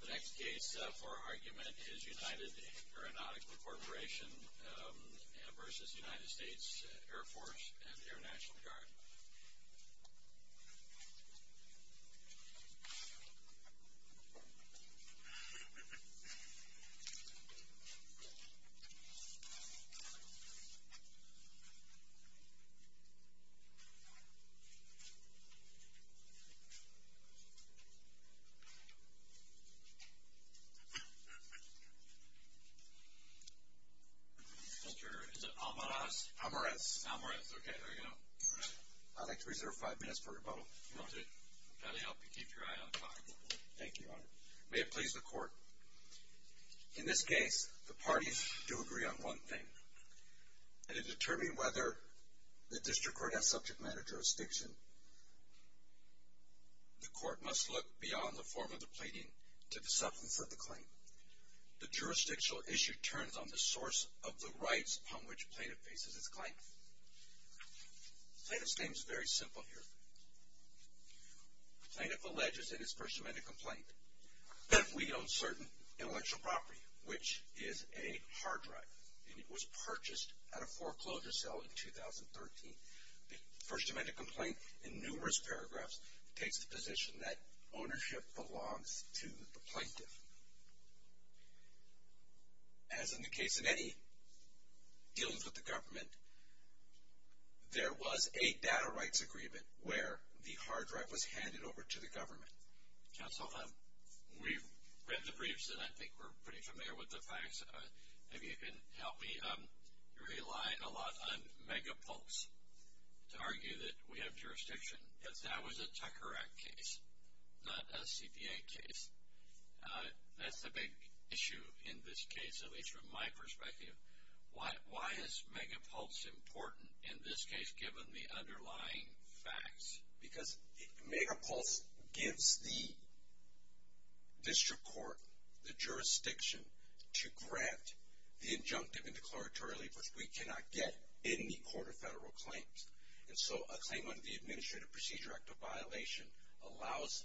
The next case for argument is United Aeronautical Corporation v. United States Air Force and the Air National Guard. Mr. Turner, is it Almaraz? Almaraz. Almaraz. Okay, there you go. I'd like to reserve five minutes for rebuttal. Okay. I'll help you keep your eye on the clock. Thank you, Your Honor. May it please the Court. In this case, the parties do agree on one thing. In determining whether the district court has subject matter jurisdiction, the court must look beyond the form of the pleading to the substance of the claim. The jurisdictional issue turns on the source of the rights upon which the plaintiff faces his claim. The plaintiff's name is very simple here. The plaintiff alleges in his First Amendment complaint that we own certain intellectual property, which is a hard drive, and it was purchased at a foreclosure sale in 2013. The First Amendment complaint, in numerous paragraphs, takes the position that ownership belongs to the plaintiff. As in the case of any dealings with the government, there was a data rights agreement where the hard drive was handed over to the government. Counsel, we've read the briefs, and I think we're pretty familiar with the facts. If you can help me, you rely a lot on Megapulse to argue that we have jurisdiction. Yes, that was a Tucker Act case, not a CPA case. That's a big issue in this case, at least from my perspective. Why is Megapulse important in this case, given the underlying facts? Because Megapulse gives the district court the jurisdiction to grant the injunctive and declaratory relief, which we cannot get in the Court of Federal Claims. And so a claim under the Administrative Procedure Act of violation allows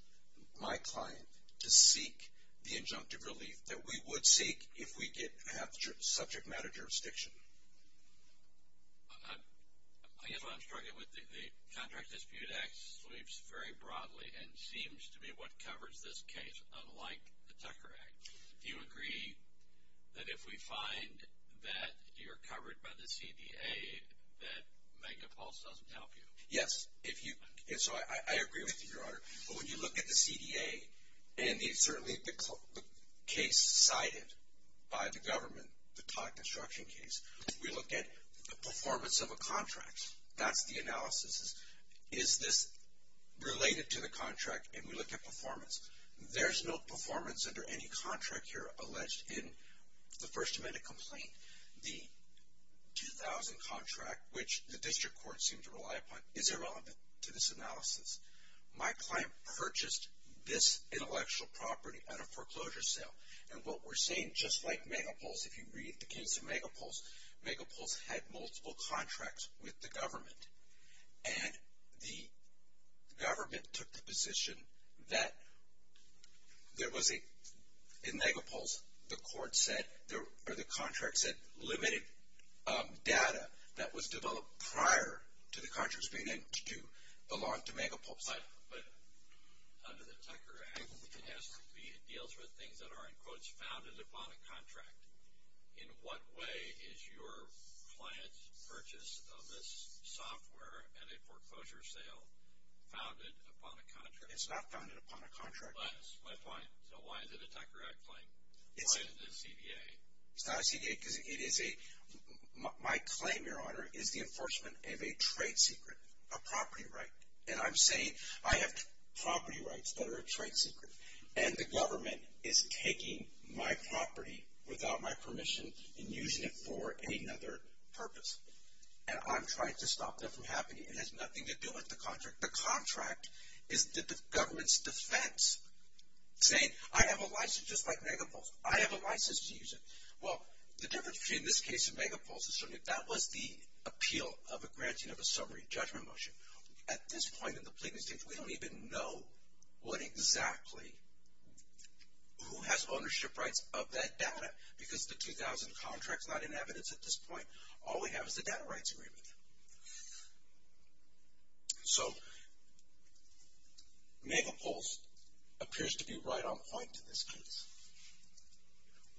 my client to seek the injunctive relief that we would seek if we did have subject matter jurisdiction. I guess what I'm struggling with, the Contract Dispute Act sweeps very broadly and seems to be what covers this case, unlike the Tucker Act. Do you agree that if we find that you're covered by the CDA, that Megapulse doesn't help you? Yes. When you look at the CDA, and certainly the case cited by the government, the Todd construction case, we look at the performance of a contract. That's the analysis. Is this related to the contract? And we look at performance. There's no performance under any contract here alleged in the First Amendment complaint. The 2000 contract, which the district court seemed to rely upon, isn't relevant to this analysis. My client purchased this intellectual property at a foreclosure sale. And what we're seeing, just like Megapulse, if you read the case of Megapulse, Megapulse had multiple contracts with the government. And the government took the position that there was a, in Megapulse, the court said, or the contract said, limited data that was developed prior to the contracts being in to do, belonged to Megapulse. But under the Tucker Act, it deals with things that are, in quotes, founded upon a contract. In what way is your client's purchase of this software at a foreclosure sale founded upon a contract? It's not founded upon a contract. So why is it a Tucker Act claim? Why is it a CDA? It's not a CDA because it is a, my claim, Your Honor, is the enforcement of a trade secret, a property right. And I'm saying I have property rights that are a trade secret. And the government is taking my property without my permission and using it for any other purpose. And I'm trying to stop that from happening. It has nothing to do with the contract. The contract is the government's defense, saying I have a license just like Megapulse. I have a license to use it. Well, the difference between this case and Megapulse is that was the appeal of a granting of a summary judgment motion. At this point in the plea case, we don't even know what exactly, who has ownership rights of that data. Because the 2000 contract is not in evidence at this point. All we have is the data rights agreement. So Megapulse appears to be right on point in this case.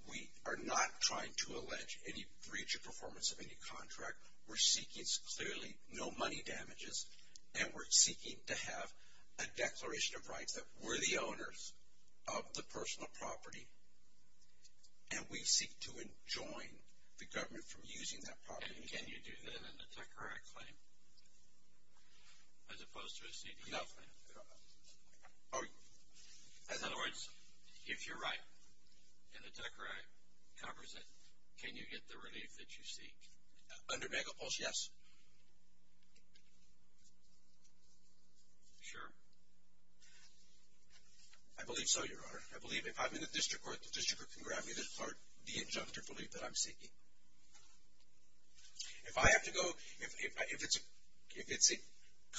We are not trying to allege any breach of performance of any contract. We're seeking clearly no money damages. And we're seeking to have a declaration of rights that we're the owners of the personal property. And we seek to enjoin the government from using that property. And can you do that in a TECRAI claim as opposed to a CDL claim? No. In other words, if you're right and the TECRAI covers it, can you get the relief that you seek? Under Megapulse, yes. Sure? I believe so, Your Honor. I believe if I'm in the district court, the district court can grab me the injunctive relief that I'm seeking. If I have to go, if it's a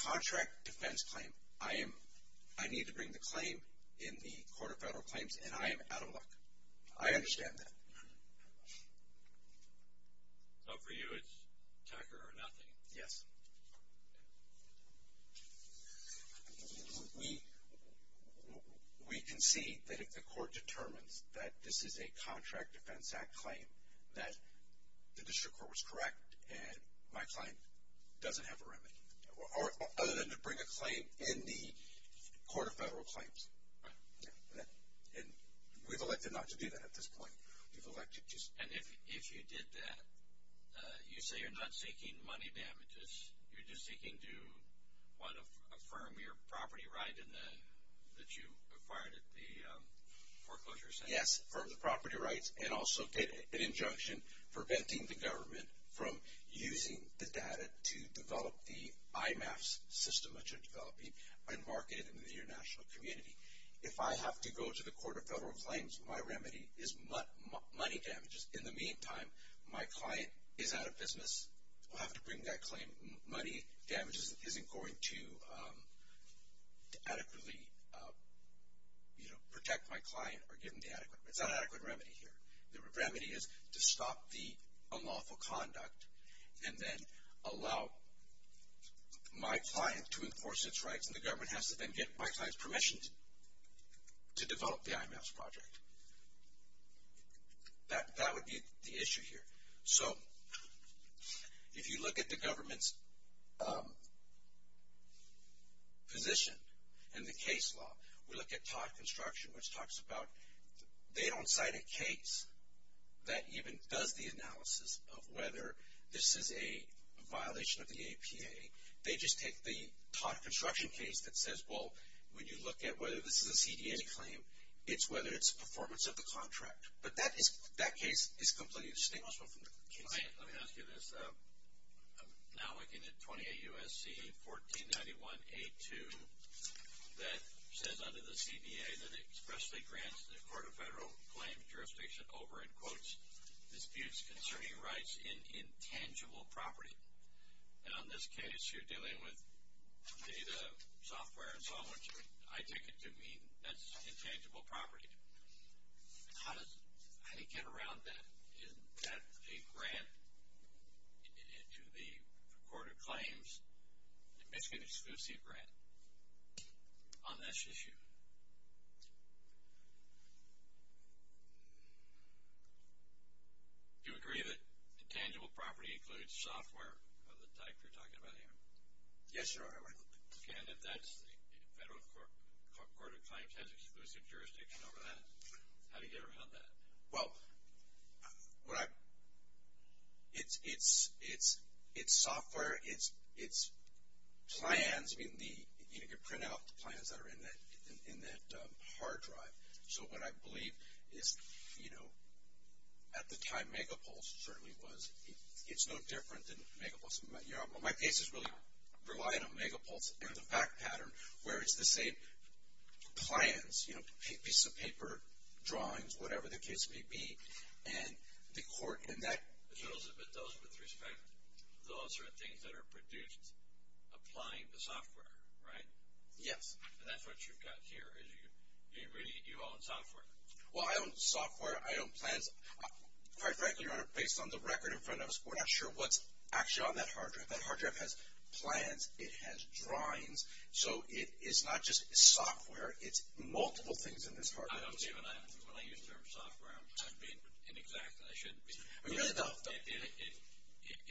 contract defense claim, I need to bring the claim in the Court of Federal Claims, and I am out of luck. I understand that. So for you, it's TECRAI or nothing? Yes. We concede that if the court determines that this is a contract defense act claim, that the district court was correct and my client doesn't have a remedy, other than to bring a claim in the Court of Federal Claims. And we've elected not to do that at this point. And if you did that, you say you're not seeking money damages, you're just seeking to, one, affirm your property right that you acquired at the foreclosure center? Yes, affirm the property rights, and also get an injunction preventing the government from using the data to develop the IMAPS system that you're developing and market it in the international community. If I have to go to the Court of Federal Claims, my remedy is money damages. In the meantime, my client is out of business. I'll have to bring that claim. Money damages isn't going to adequately protect my client or give him the adequate. It's not an adequate remedy here. The remedy is to stop the unlawful conduct and then allow my client to enforce its rights, and the government has to then get my client's permission to develop the IMAPS project. That would be the issue here. So if you look at the government's position in the case law, we look at Todd Construction, which talks about they don't cite a case that even does the analysis of whether this is a violation of the APA. They just take the Todd Construction case that says, well, when you look at whether this is a CDA claim, it's whether it's a performance of the contract. But that case is completely distinguished from the case law. Let me ask you this. I'm now looking at 28 U.S.C. 1491A2 that says under the CDA that it expressly grants the Court of Federal Claims jurisdiction over, in quotes, disputes concerning rights in intangible property. And on this case, you're dealing with data, software, and so on, which I take it to mean that's intangible property. How does it get around that? Is that a grant to the Court of Claims, an exclusive grant on this issue? Do you agree that intangible property includes software of the type you're talking about here? Yes, sir, I would. And if that's the Federal Court of Claims has exclusive jurisdiction over that, how do you get around that? Well, it's software. It's plans. I mean, you can print out the plans that are in that hard drive. So what I believe is, you know, at the time Megapulse certainly was. It's no different than Megapulse. My case is really relying on Megapulse and the fact pattern where it's the same plans, you know, pieces of paper, drawings, whatever the case may be, and the court and that. But those, with respect, those are things that are produced applying the software, right? Yes. And that's what you've got here is you own software. Well, I own software. I own plans. Quite frankly, Your Honor, based on the record in front of us, we're not sure what's actually on that hard drive. That hard drive has plans. It has drawings. So it is not just software. It's multiple things in this hard drive. When I use the term software, I'm being inexact. I shouldn't be. I really don't.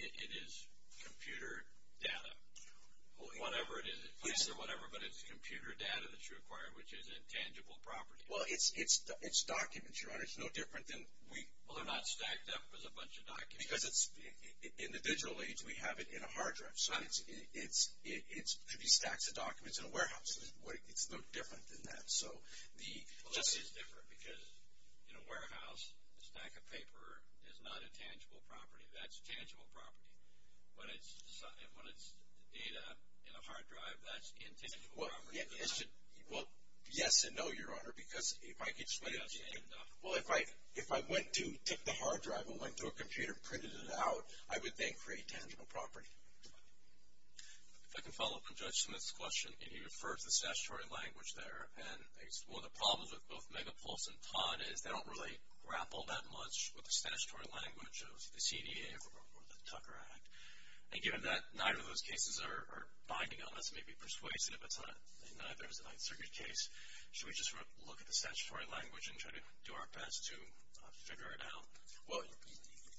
It is computer data, whatever it is. It's a piece of whatever, but it's computer data that you acquire, which is intangible property. Well, it's documents, Your Honor. It's no different than we. Well, they're not stacked up as a bunch of documents. Because in the digital age, we have it in a hard drive. So it should be stacks of documents in a warehouse. It's no different than that. Well, that is different because in a warehouse, a stack of paper is not intangible property. That's tangible property. When it's data in a hard drive, that's intangible property. Well, yes and no, Your Honor, because if I could explain it. Well, if I went to take the hard drive and went to a computer and printed it out, I would then create tangible property. If I can follow up on Judge Smith's question. He referred to the statutory language there. And one of the problems with both Megapulse and Todd is they don't really grapple that much with the statutory language of the CDA or the Tucker Act. And given that neither of those cases are binding on us, maybe persuasive, and neither is the Ninth Circuit case, should we just look at the statutory language and try to do our best to figure it out? Well,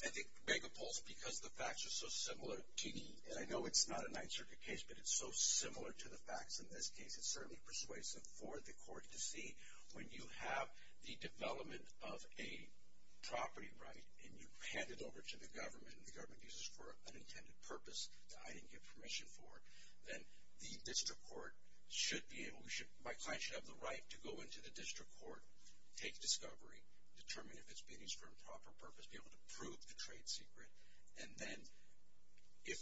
I think Megapulse, because the facts are so similar to me, and I know it's not a Ninth Circuit case, but it's so similar to the facts in this case, it's certainly persuasive for the court to see. When you have the development of a property right and you hand it over to the government and the government uses it for an unintended purpose that I didn't give permission for, then the district court should be able to – my client should have the right to go into the district court, take discovery, determine if it's being used for a proper purpose, be able to prove the trade secret. And then if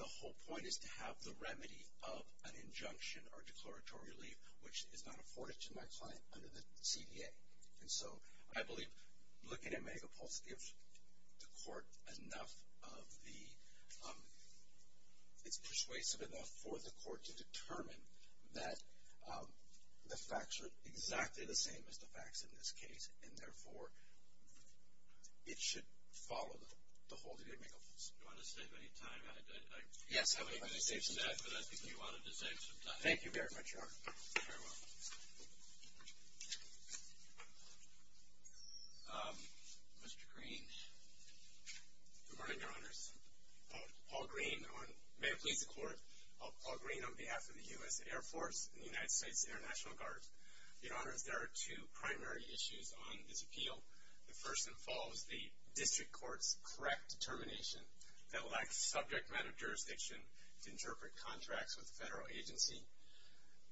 the whole point is to have the remedy of an injunction or declaratory relief, which is not afforded to my client under the CDA. And so I believe looking at Megapulse gives the court enough of the – the same as the facts in this case, and therefore it should follow the hold of the Megapulse. Do you want to save any time? Yes, I would like to save some time. But I think you wanted to save some time. Thank you very much, Your Honor. You're very welcome. Mr. Green. Good morning, Your Honors. Paul Green on – may it please the Court. Paul Green on behalf of the U.S. Air Force and the United States International Guard. Your Honors, there are two primary issues on this appeal. The first involves the district court's correct determination that lacks subject matter jurisdiction to interpret contracts with a federal agency.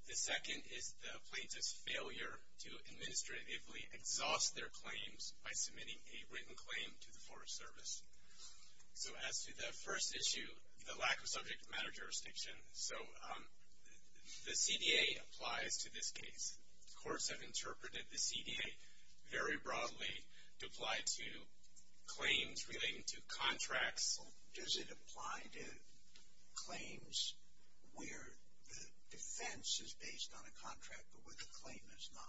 The second is the plaintiff's failure to administratively exhaust their claims by submitting a written claim to the Forest Service. So as to the first issue, the lack of subject matter jurisdiction, so the CDA applies to this case. Courts have interpreted the CDA very broadly to apply to claims relating to contracts. Does it apply to claims where the defense is based on a contract but where the claim is not?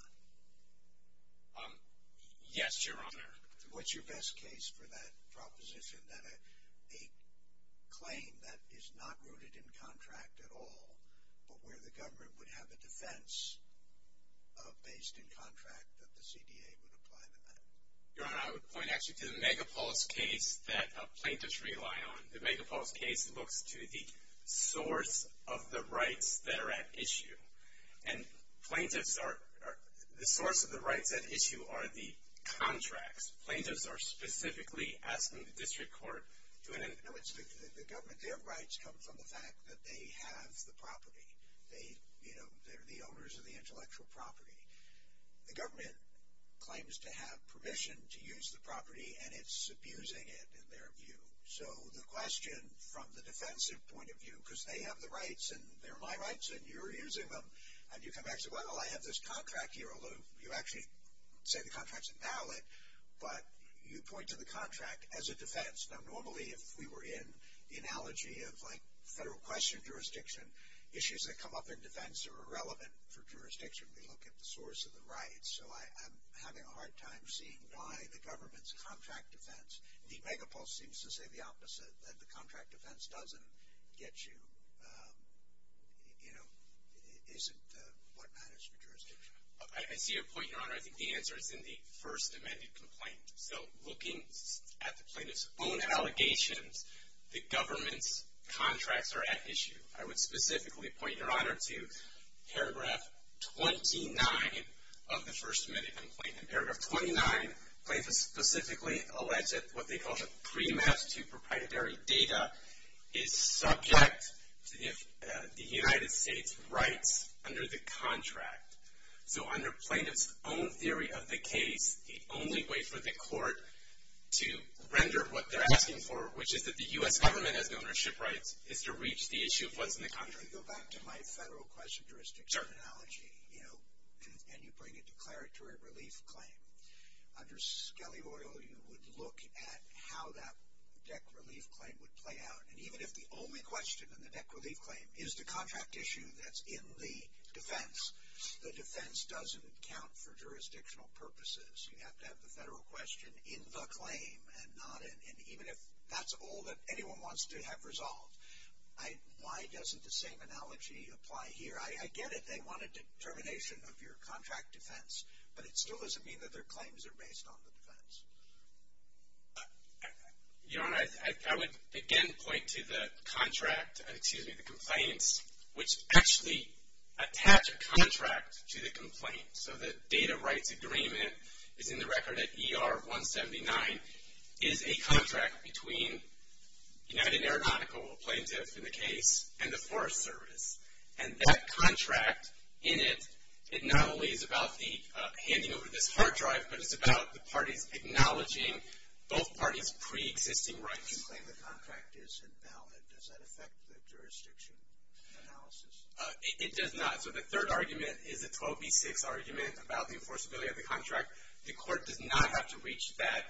Yes, Your Honor. What's your best case for that proposition that a claim that is not rooted in contract at all but where the government would have a defense based in contract that the CDA would apply to that? Your Honor, I would point actually to the Megapulse case that plaintiffs rely on. The Megapulse case looks to the source of the rights that are at issue. And plaintiffs are, the source of the rights at issue are the contracts. Plaintiffs are specifically asking the district court to. No, it's the government. Their rights come from the fact that they have the property. They, you know, they're the owners of the intellectual property. The government claims to have permission to use the property and it's abusing it in their view. So the question from the defensive point of view, because they have the rights and they're my rights and you're using them and you come back and say, well, I have this contract here, although you actually say the contract's invalid, but you point to the contract as a defense. Now normally if we were in the analogy of like federal question jurisdiction, issues that come up in defense are irrelevant for jurisdiction. We look at the source of the rights. So I'm having a hard time seeing why the government's contract defense, the megapulse seems to say the opposite, that the contract defense doesn't get you, you know, isn't what matters for jurisdiction. I see your point, Your Honor. I think the answer is in the first amended complaint. So looking at the plaintiff's own allegations, the government's contracts are at issue. I would specifically point, Your Honor, to paragraph 29 of the first amended complaint. In paragraph 29, plaintiffs specifically allege that what they call a pre-match to proprietary data is subject to the United States' rights under the contract. So under plaintiff's own theory of the case, the only way for the court to render what they're asking for, which is that the U.S. government has ownership rights, is to reach the issue of what's in the contract. Let me go back to my federal question jurisdiction analogy. You know, and you bring a declaratory relief claim. Under Skelly Royal, you would look at how that DEC relief claim would play out. And even if the only question in the DEC relief claim is the contract issue that's in the defense, the defense doesn't count for jurisdictional purposes. You have to have the federal question in the claim and not in, and even if that's all that anyone wants to have resolved, why doesn't the same analogy apply here? I get it. They want a determination of your contract defense, but it still doesn't mean that their claims are based on the defense. Your Honor, I would again point to the contract, excuse me, the complaints, which actually attach a contract to the complaint. So the data rights agreement is in the record at ER 179 is a contract between United Aeronautical, a plaintiff in the case, and the Forest Service. And that contract in it, it not only is about the handing over this hard drive, but it's about the parties acknowledging both parties' preexisting rights. You claim the contract is invalid. Does that affect the jurisdiction analysis? It does not. So the third argument is a 12B6 argument about the enforceability of the contract. The court does not have to reach that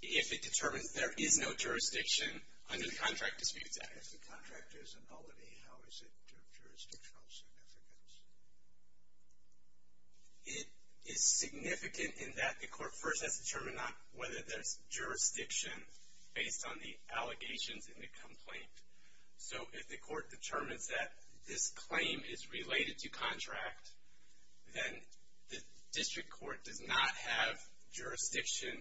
if it determines there is no jurisdiction under the contract disputes act. If the contract is invalid, how is it of jurisdictional significance? It is significant in that the court first has to determine whether there is jurisdiction based on the allegations in the complaint. So if the court determines that this claim is related to contract, then the district court does not have jurisdiction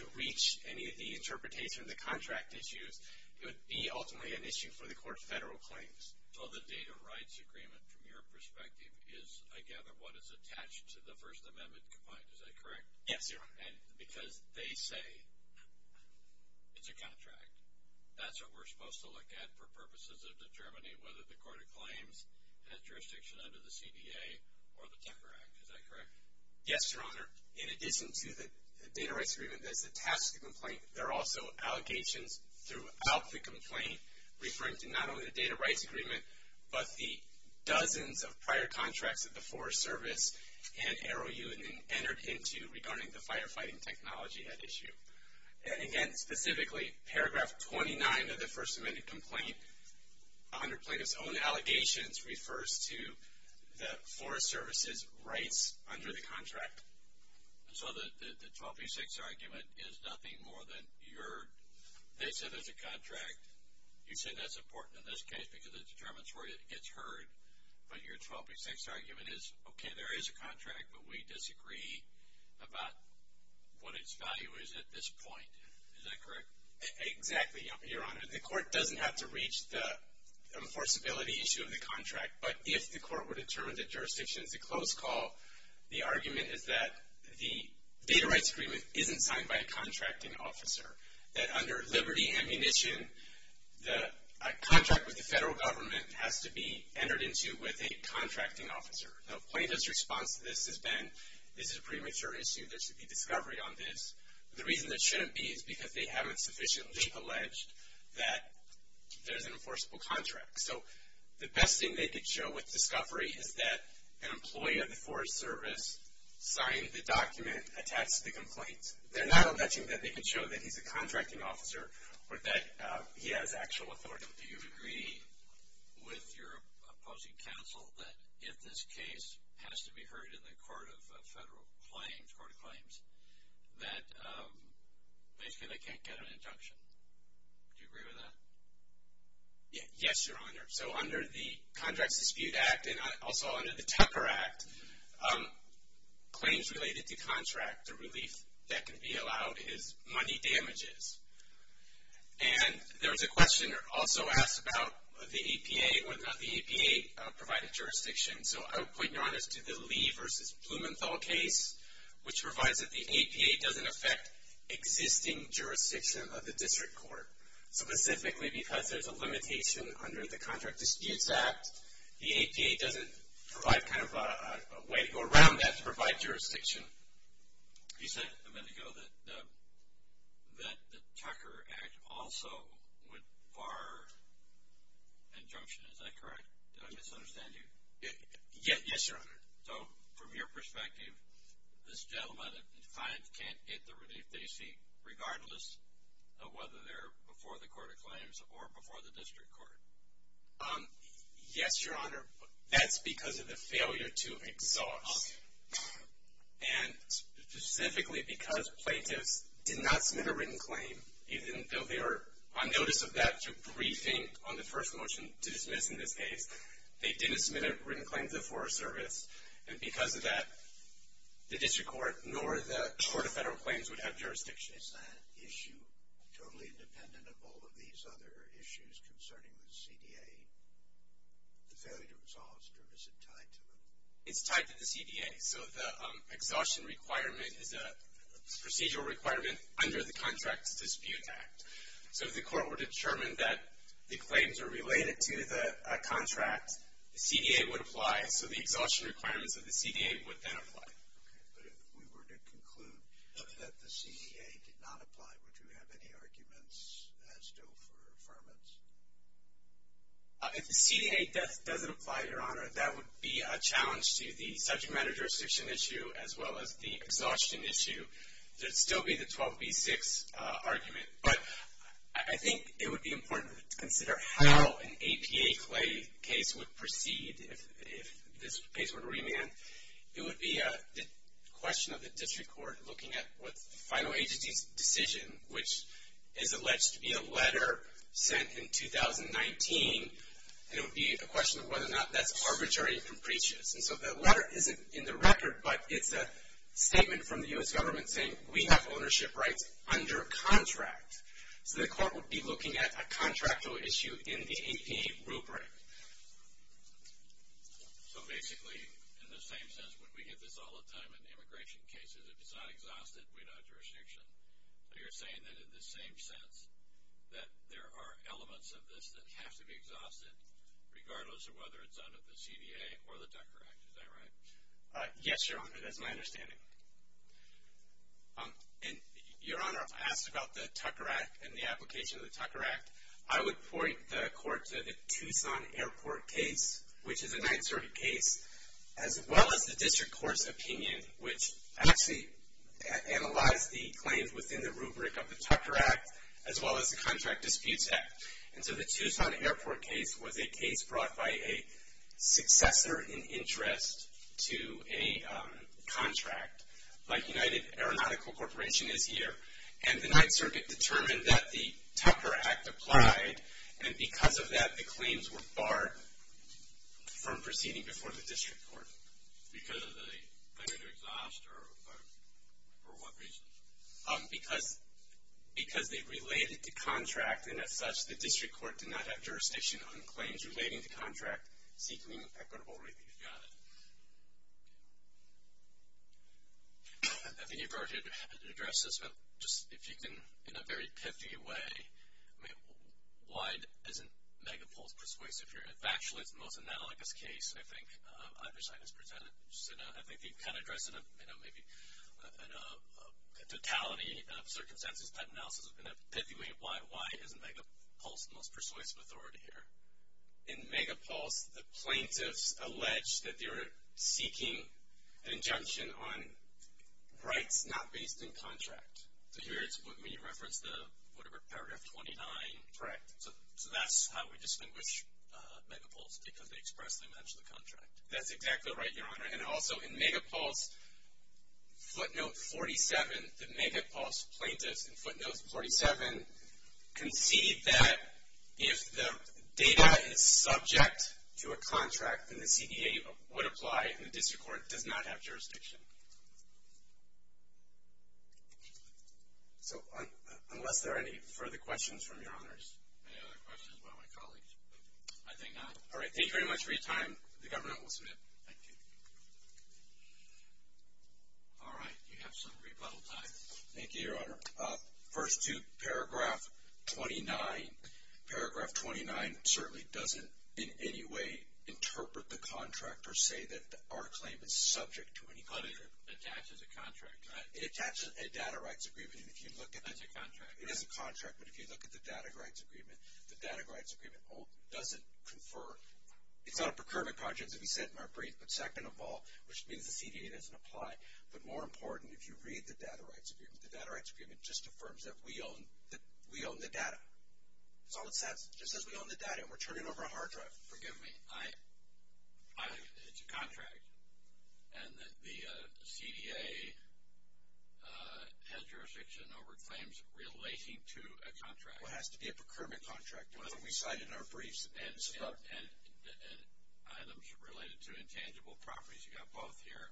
to reach any of the interpretation of the contract issues. It would be ultimately an issue for the court's federal claims. So the data rights agreement, from your perspective, is I gather what is attached to the First Amendment complaint, is that correct? Yes, Your Honor. Because they say it's a contract. That's what we're supposed to look at for purposes of determining whether the court acclaims jurisdiction under the CDA or the Tucker Act. Is that correct? Yes, Your Honor. In addition to the data rights agreement that's attached to the complaint, there are also allegations throughout the complaint referring to not only the data rights agreement, but the dozens of prior contracts that the Forest Service and AROU entered into regarding the firefighting technology at issue. And again, specifically, paragraph 29 of the First Amendment complaint, under plaintiff's own allegations, refers to the Forest Service's rights under the contract. So the 1236 argument is nothing more than they said it's a contract. You say that's important in this case because it determines where it gets heard. But your 1236 argument is, okay, there is a contract, but we disagree about what its value is at this point. Is that correct? Exactly, Your Honor. The court doesn't have to reach the enforceability issue of the contract, but if the court were to determine that jurisdiction is a close call, the argument is that the data rights agreement isn't signed by a contracting officer, that under liberty and munition, a contract with the federal government has to be entered into with a contracting officer. Now, plaintiff's response to this has been, this is a premature issue. There should be discovery on this. The reason there shouldn't be is because they haven't sufficiently alleged that there's an enforceable contract. So the best thing they could show with discovery is that an employee of the Forest Service signed the document attached to the complaint. They're not alleging that they can show that he's a contracting officer or that he has actual authority. Do you agree with your opposing counsel that if this case has to be heard in the court of claims, that basically they can't get an injunction? Do you agree with that? Yes, Your Honor. So under the Contracts Dispute Act and also under the Tupper Act, claims related to contract or relief that can be allowed is money damages. And there was a question also asked about the APA, whether or not the APA provided jurisdiction. So I would point, Your Honor, to the Lee v. Blumenthal case, which provides that the APA doesn't affect existing jurisdiction of the district court, specifically because there's a limitation under the Contract Disputes Act. The APA doesn't provide kind of a way to go around that to provide jurisdiction. You said a minute ago that the Tucker Act also would bar injunction. Is that correct? Did I misunderstand you? Yes, Your Honor. So from your perspective, this gentleman can't get the relief they seek, regardless of whether they're before the court of claims or before the district court? Yes, Your Honor. That's because of the failure to exhaust. And specifically because plaintiffs did not submit a written claim, even though they were on notice of that through briefing on the first motion to dismiss in this case, they didn't submit a written claim to the Forest Service. And because of that, the district court nor the court of federal claims would have jurisdiction. Is that issue totally independent of all of these other issues concerning the CDA, the failure to exhaust, or is it tied to them? It's tied to the CDA. So the exhaustion requirement is a procedural requirement under the Contract Disputes Act. So if the court were to determine that the claims are related to the contract, the CDA would apply. So the exhaustion requirements of the CDA would then apply. Okay. But if we were to conclude that the CDA did not apply, would you have any arguments as to affirmance? If the CDA doesn't apply, Your Honor, that would be a challenge to the subject matter jurisdiction issue as well as the exhaustion issue. There would still be the 12B6 argument. But I think it would be important to consider how an APA claim case would proceed if this case were to remand. It would be a question of the district court looking at what the final agency's decision, which is alleged to be a letter sent in 2019, and it would be a question of whether or not that's arbitrary and precious. And so that letter isn't in the record, but it's a statement from the U.S. government saying, we have ownership rights under contract. So the court would be looking at a contractual issue in the APA rubric. So basically, in the same sense, when we get this all the time in immigration cases, if it's not exhausted, we don't have jurisdiction. But you're saying that in the same sense that there are elements of this that have to be exhausted, regardless of whether it's under the CDA or the Tucker Act. Is that right? Yes, Your Honor. That's my understanding. And, Your Honor, if I asked about the Tucker Act and the application of the Tucker Act, I would point the court to the Tucson Airport case, which is a Ninth Circuit case, as well as the district court's opinion, which actually analyzed the claims within the rubric of the Tucker Act, as well as the Contract Disputes Act. And so the Tucson Airport case was a case brought by a successor in interest to a contract, like United Aeronautical Corporation is here. And the Ninth Circuit determined that the Tucker Act applied, and because of that the claims were barred from proceeding before the district court. Because of the failure to exhaust, or for what reason? Because they related to contract, and as such, the district court did not have jurisdiction on claims relating to contract seeking equitable relief. Got it. I think you've already addressed this, but if you can, in a very pithy way, why isn't Megapulse persuasive here? In factually, it's the most analogous case, I think, either side has presented. I think you've kind of addressed it in a totality of circumstances type analysis. In a pithy way, why isn't Megapulse the most persuasive authority here? In Megapulse, the plaintiffs allege that they were seeking an injunction on rights not based in contract. So here it's when you reference the, whatever, paragraph 29. Correct. So that's how we distinguish Megapulse, because they expressly mention the contract. That's exactly right, Your Honor. And also in Megapulse footnote 47, the Megapulse plaintiffs in footnote 47 concede that if the data is subject to a contract, then the CDA would apply and the district court does not have jurisdiction. So unless there are any further questions from Your Honors. Any other questions about my colleagues? I think not. All right, thank you very much for your time. The Governor will submit. Thank you. All right, you have some rebuttal time. Thank you, Your Honor. First two, paragraph 29. Paragraph 29 certainly doesn't in any way interpret the contract or say that our claim is subject to any contract. But it attaches a contract, right? It attaches a data rights agreement. That's a contract, right? It is a contract, but if you look at the data rights agreement, the data rights agreement doesn't confer. It's not a procurement contract, as we said in our brief, but second of all, which means the CDA doesn't apply. But more important, if you read the data rights agreement, the data rights agreement just affirms that we own the data. That's all it says. It just says we own the data and we're turning over a hard drive. Forgive me. It's a contract. And the CDA has jurisdiction over claims relating to a contract. Well, it has to be a procurement contract. That's what we cited in our briefs. And items related to intangible properties. You've got both here.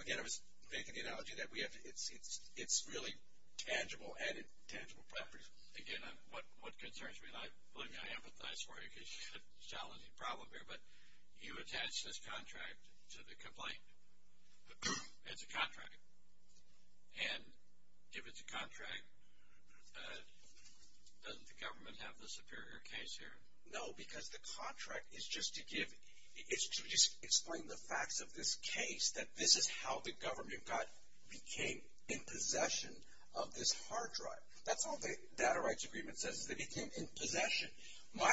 Again, I was making the analogy that it's really tangible, added tangible properties. Again, what concerns me, and believe me, I empathize for you, because you have a challenging problem here, but you attach this contract to the complaint. It's a contract. And if it's a contract, doesn't the government have the superior case here? No, because the contract is just to give, it's to just explain the facts of this case, that this is how the government got, became in possession of this hard drive. That's all the data rights agreement says, is they became in possession. My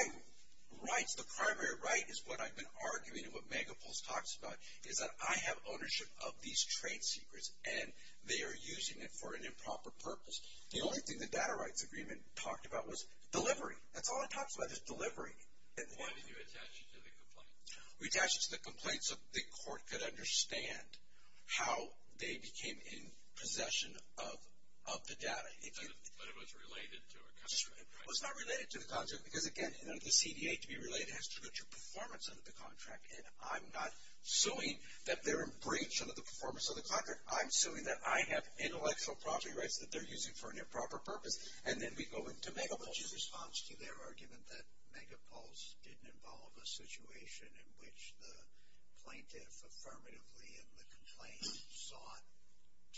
rights, the primary right is what I've been arguing and what megapulse talks about, is that I have ownership of these trade secrets, and they are using it for an improper purpose. The only thing the data rights agreement talked about was delivery. That's all it talks about is delivery. Why did you attach it to the complaint? We attached it to the complaint so the court could understand how they became in possession of the data. But it was related to a contract, right? It was not related to the contract, because again, the CDA to be related has to look at your performance under the contract, and I'm not suing that they're in breach under the performance of the contract. I'm suing that I have intellectual property rights that they're using for an improper purpose, and then we go into megapulse. What's your response to their argument that megapulse didn't involve a situation in which the plaintiff affirmatively in the complaint sought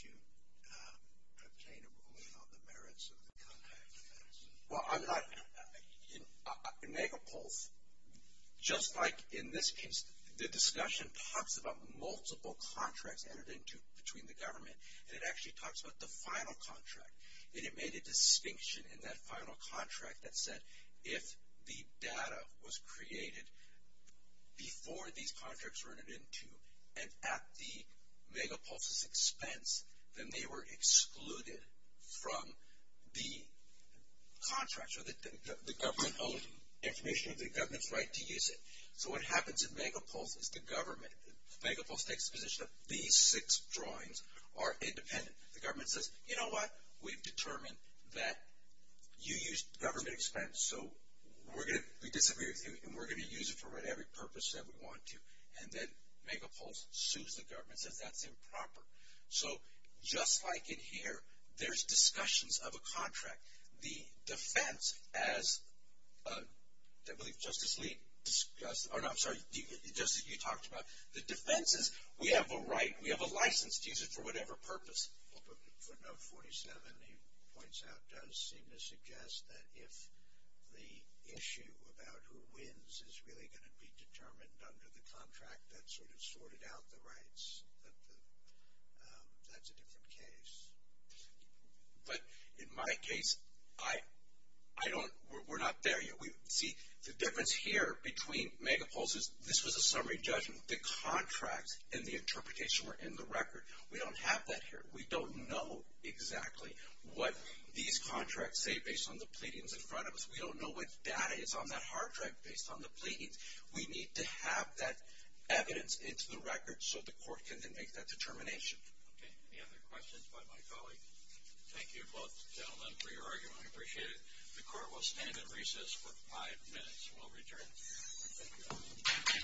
to obtain a ruling on the merits of the contract? Well, in megapulse, just like in this case, the discussion talks about multiple contracts entered into between the government, and it actually talks about the final contract, and it made a distinction in that final contract that said if the data was created before these contracts were entered into, and at the megapulse's expense, then they were excluded from the contracts, or the government owned information, and the government's right to use it. So what happens in megapulse is the government, megapulse takes the position that these six drawings are independent. The government says, you know what, we've determined that you used government expense, so we disagree with you, and we're going to use it for whatever purpose that we want to, and then megapulse sues the government and says that's improper. So just like in here, there's discussions of a contract. The defense as Justice Lee discussed, or no, I'm sorry, Justice Lee talked about, the defense is we have a right, we have a license to use it for whatever purpose. For note 47, he points out, does seem to suggest that if the issue about who wins is really going to be determined under the contract that sort of sorted out the rights, that that's a different case. But in my case, I don't, we're not there yet. See, the difference here between megapulse is this was a summary judgment. The contract and the interpretation were in the record. We don't have that here. We don't know exactly what these contracts say based on the pleadings in front of us. We don't know what data is on that hard drive based on the pleadings. We need to have that evidence into the record so the court can then make that determination. Okay, any other questions by my colleagues? Thank you both gentlemen for your argument. I appreciate it. The court will stand at recess for five minutes and will return. Thank you.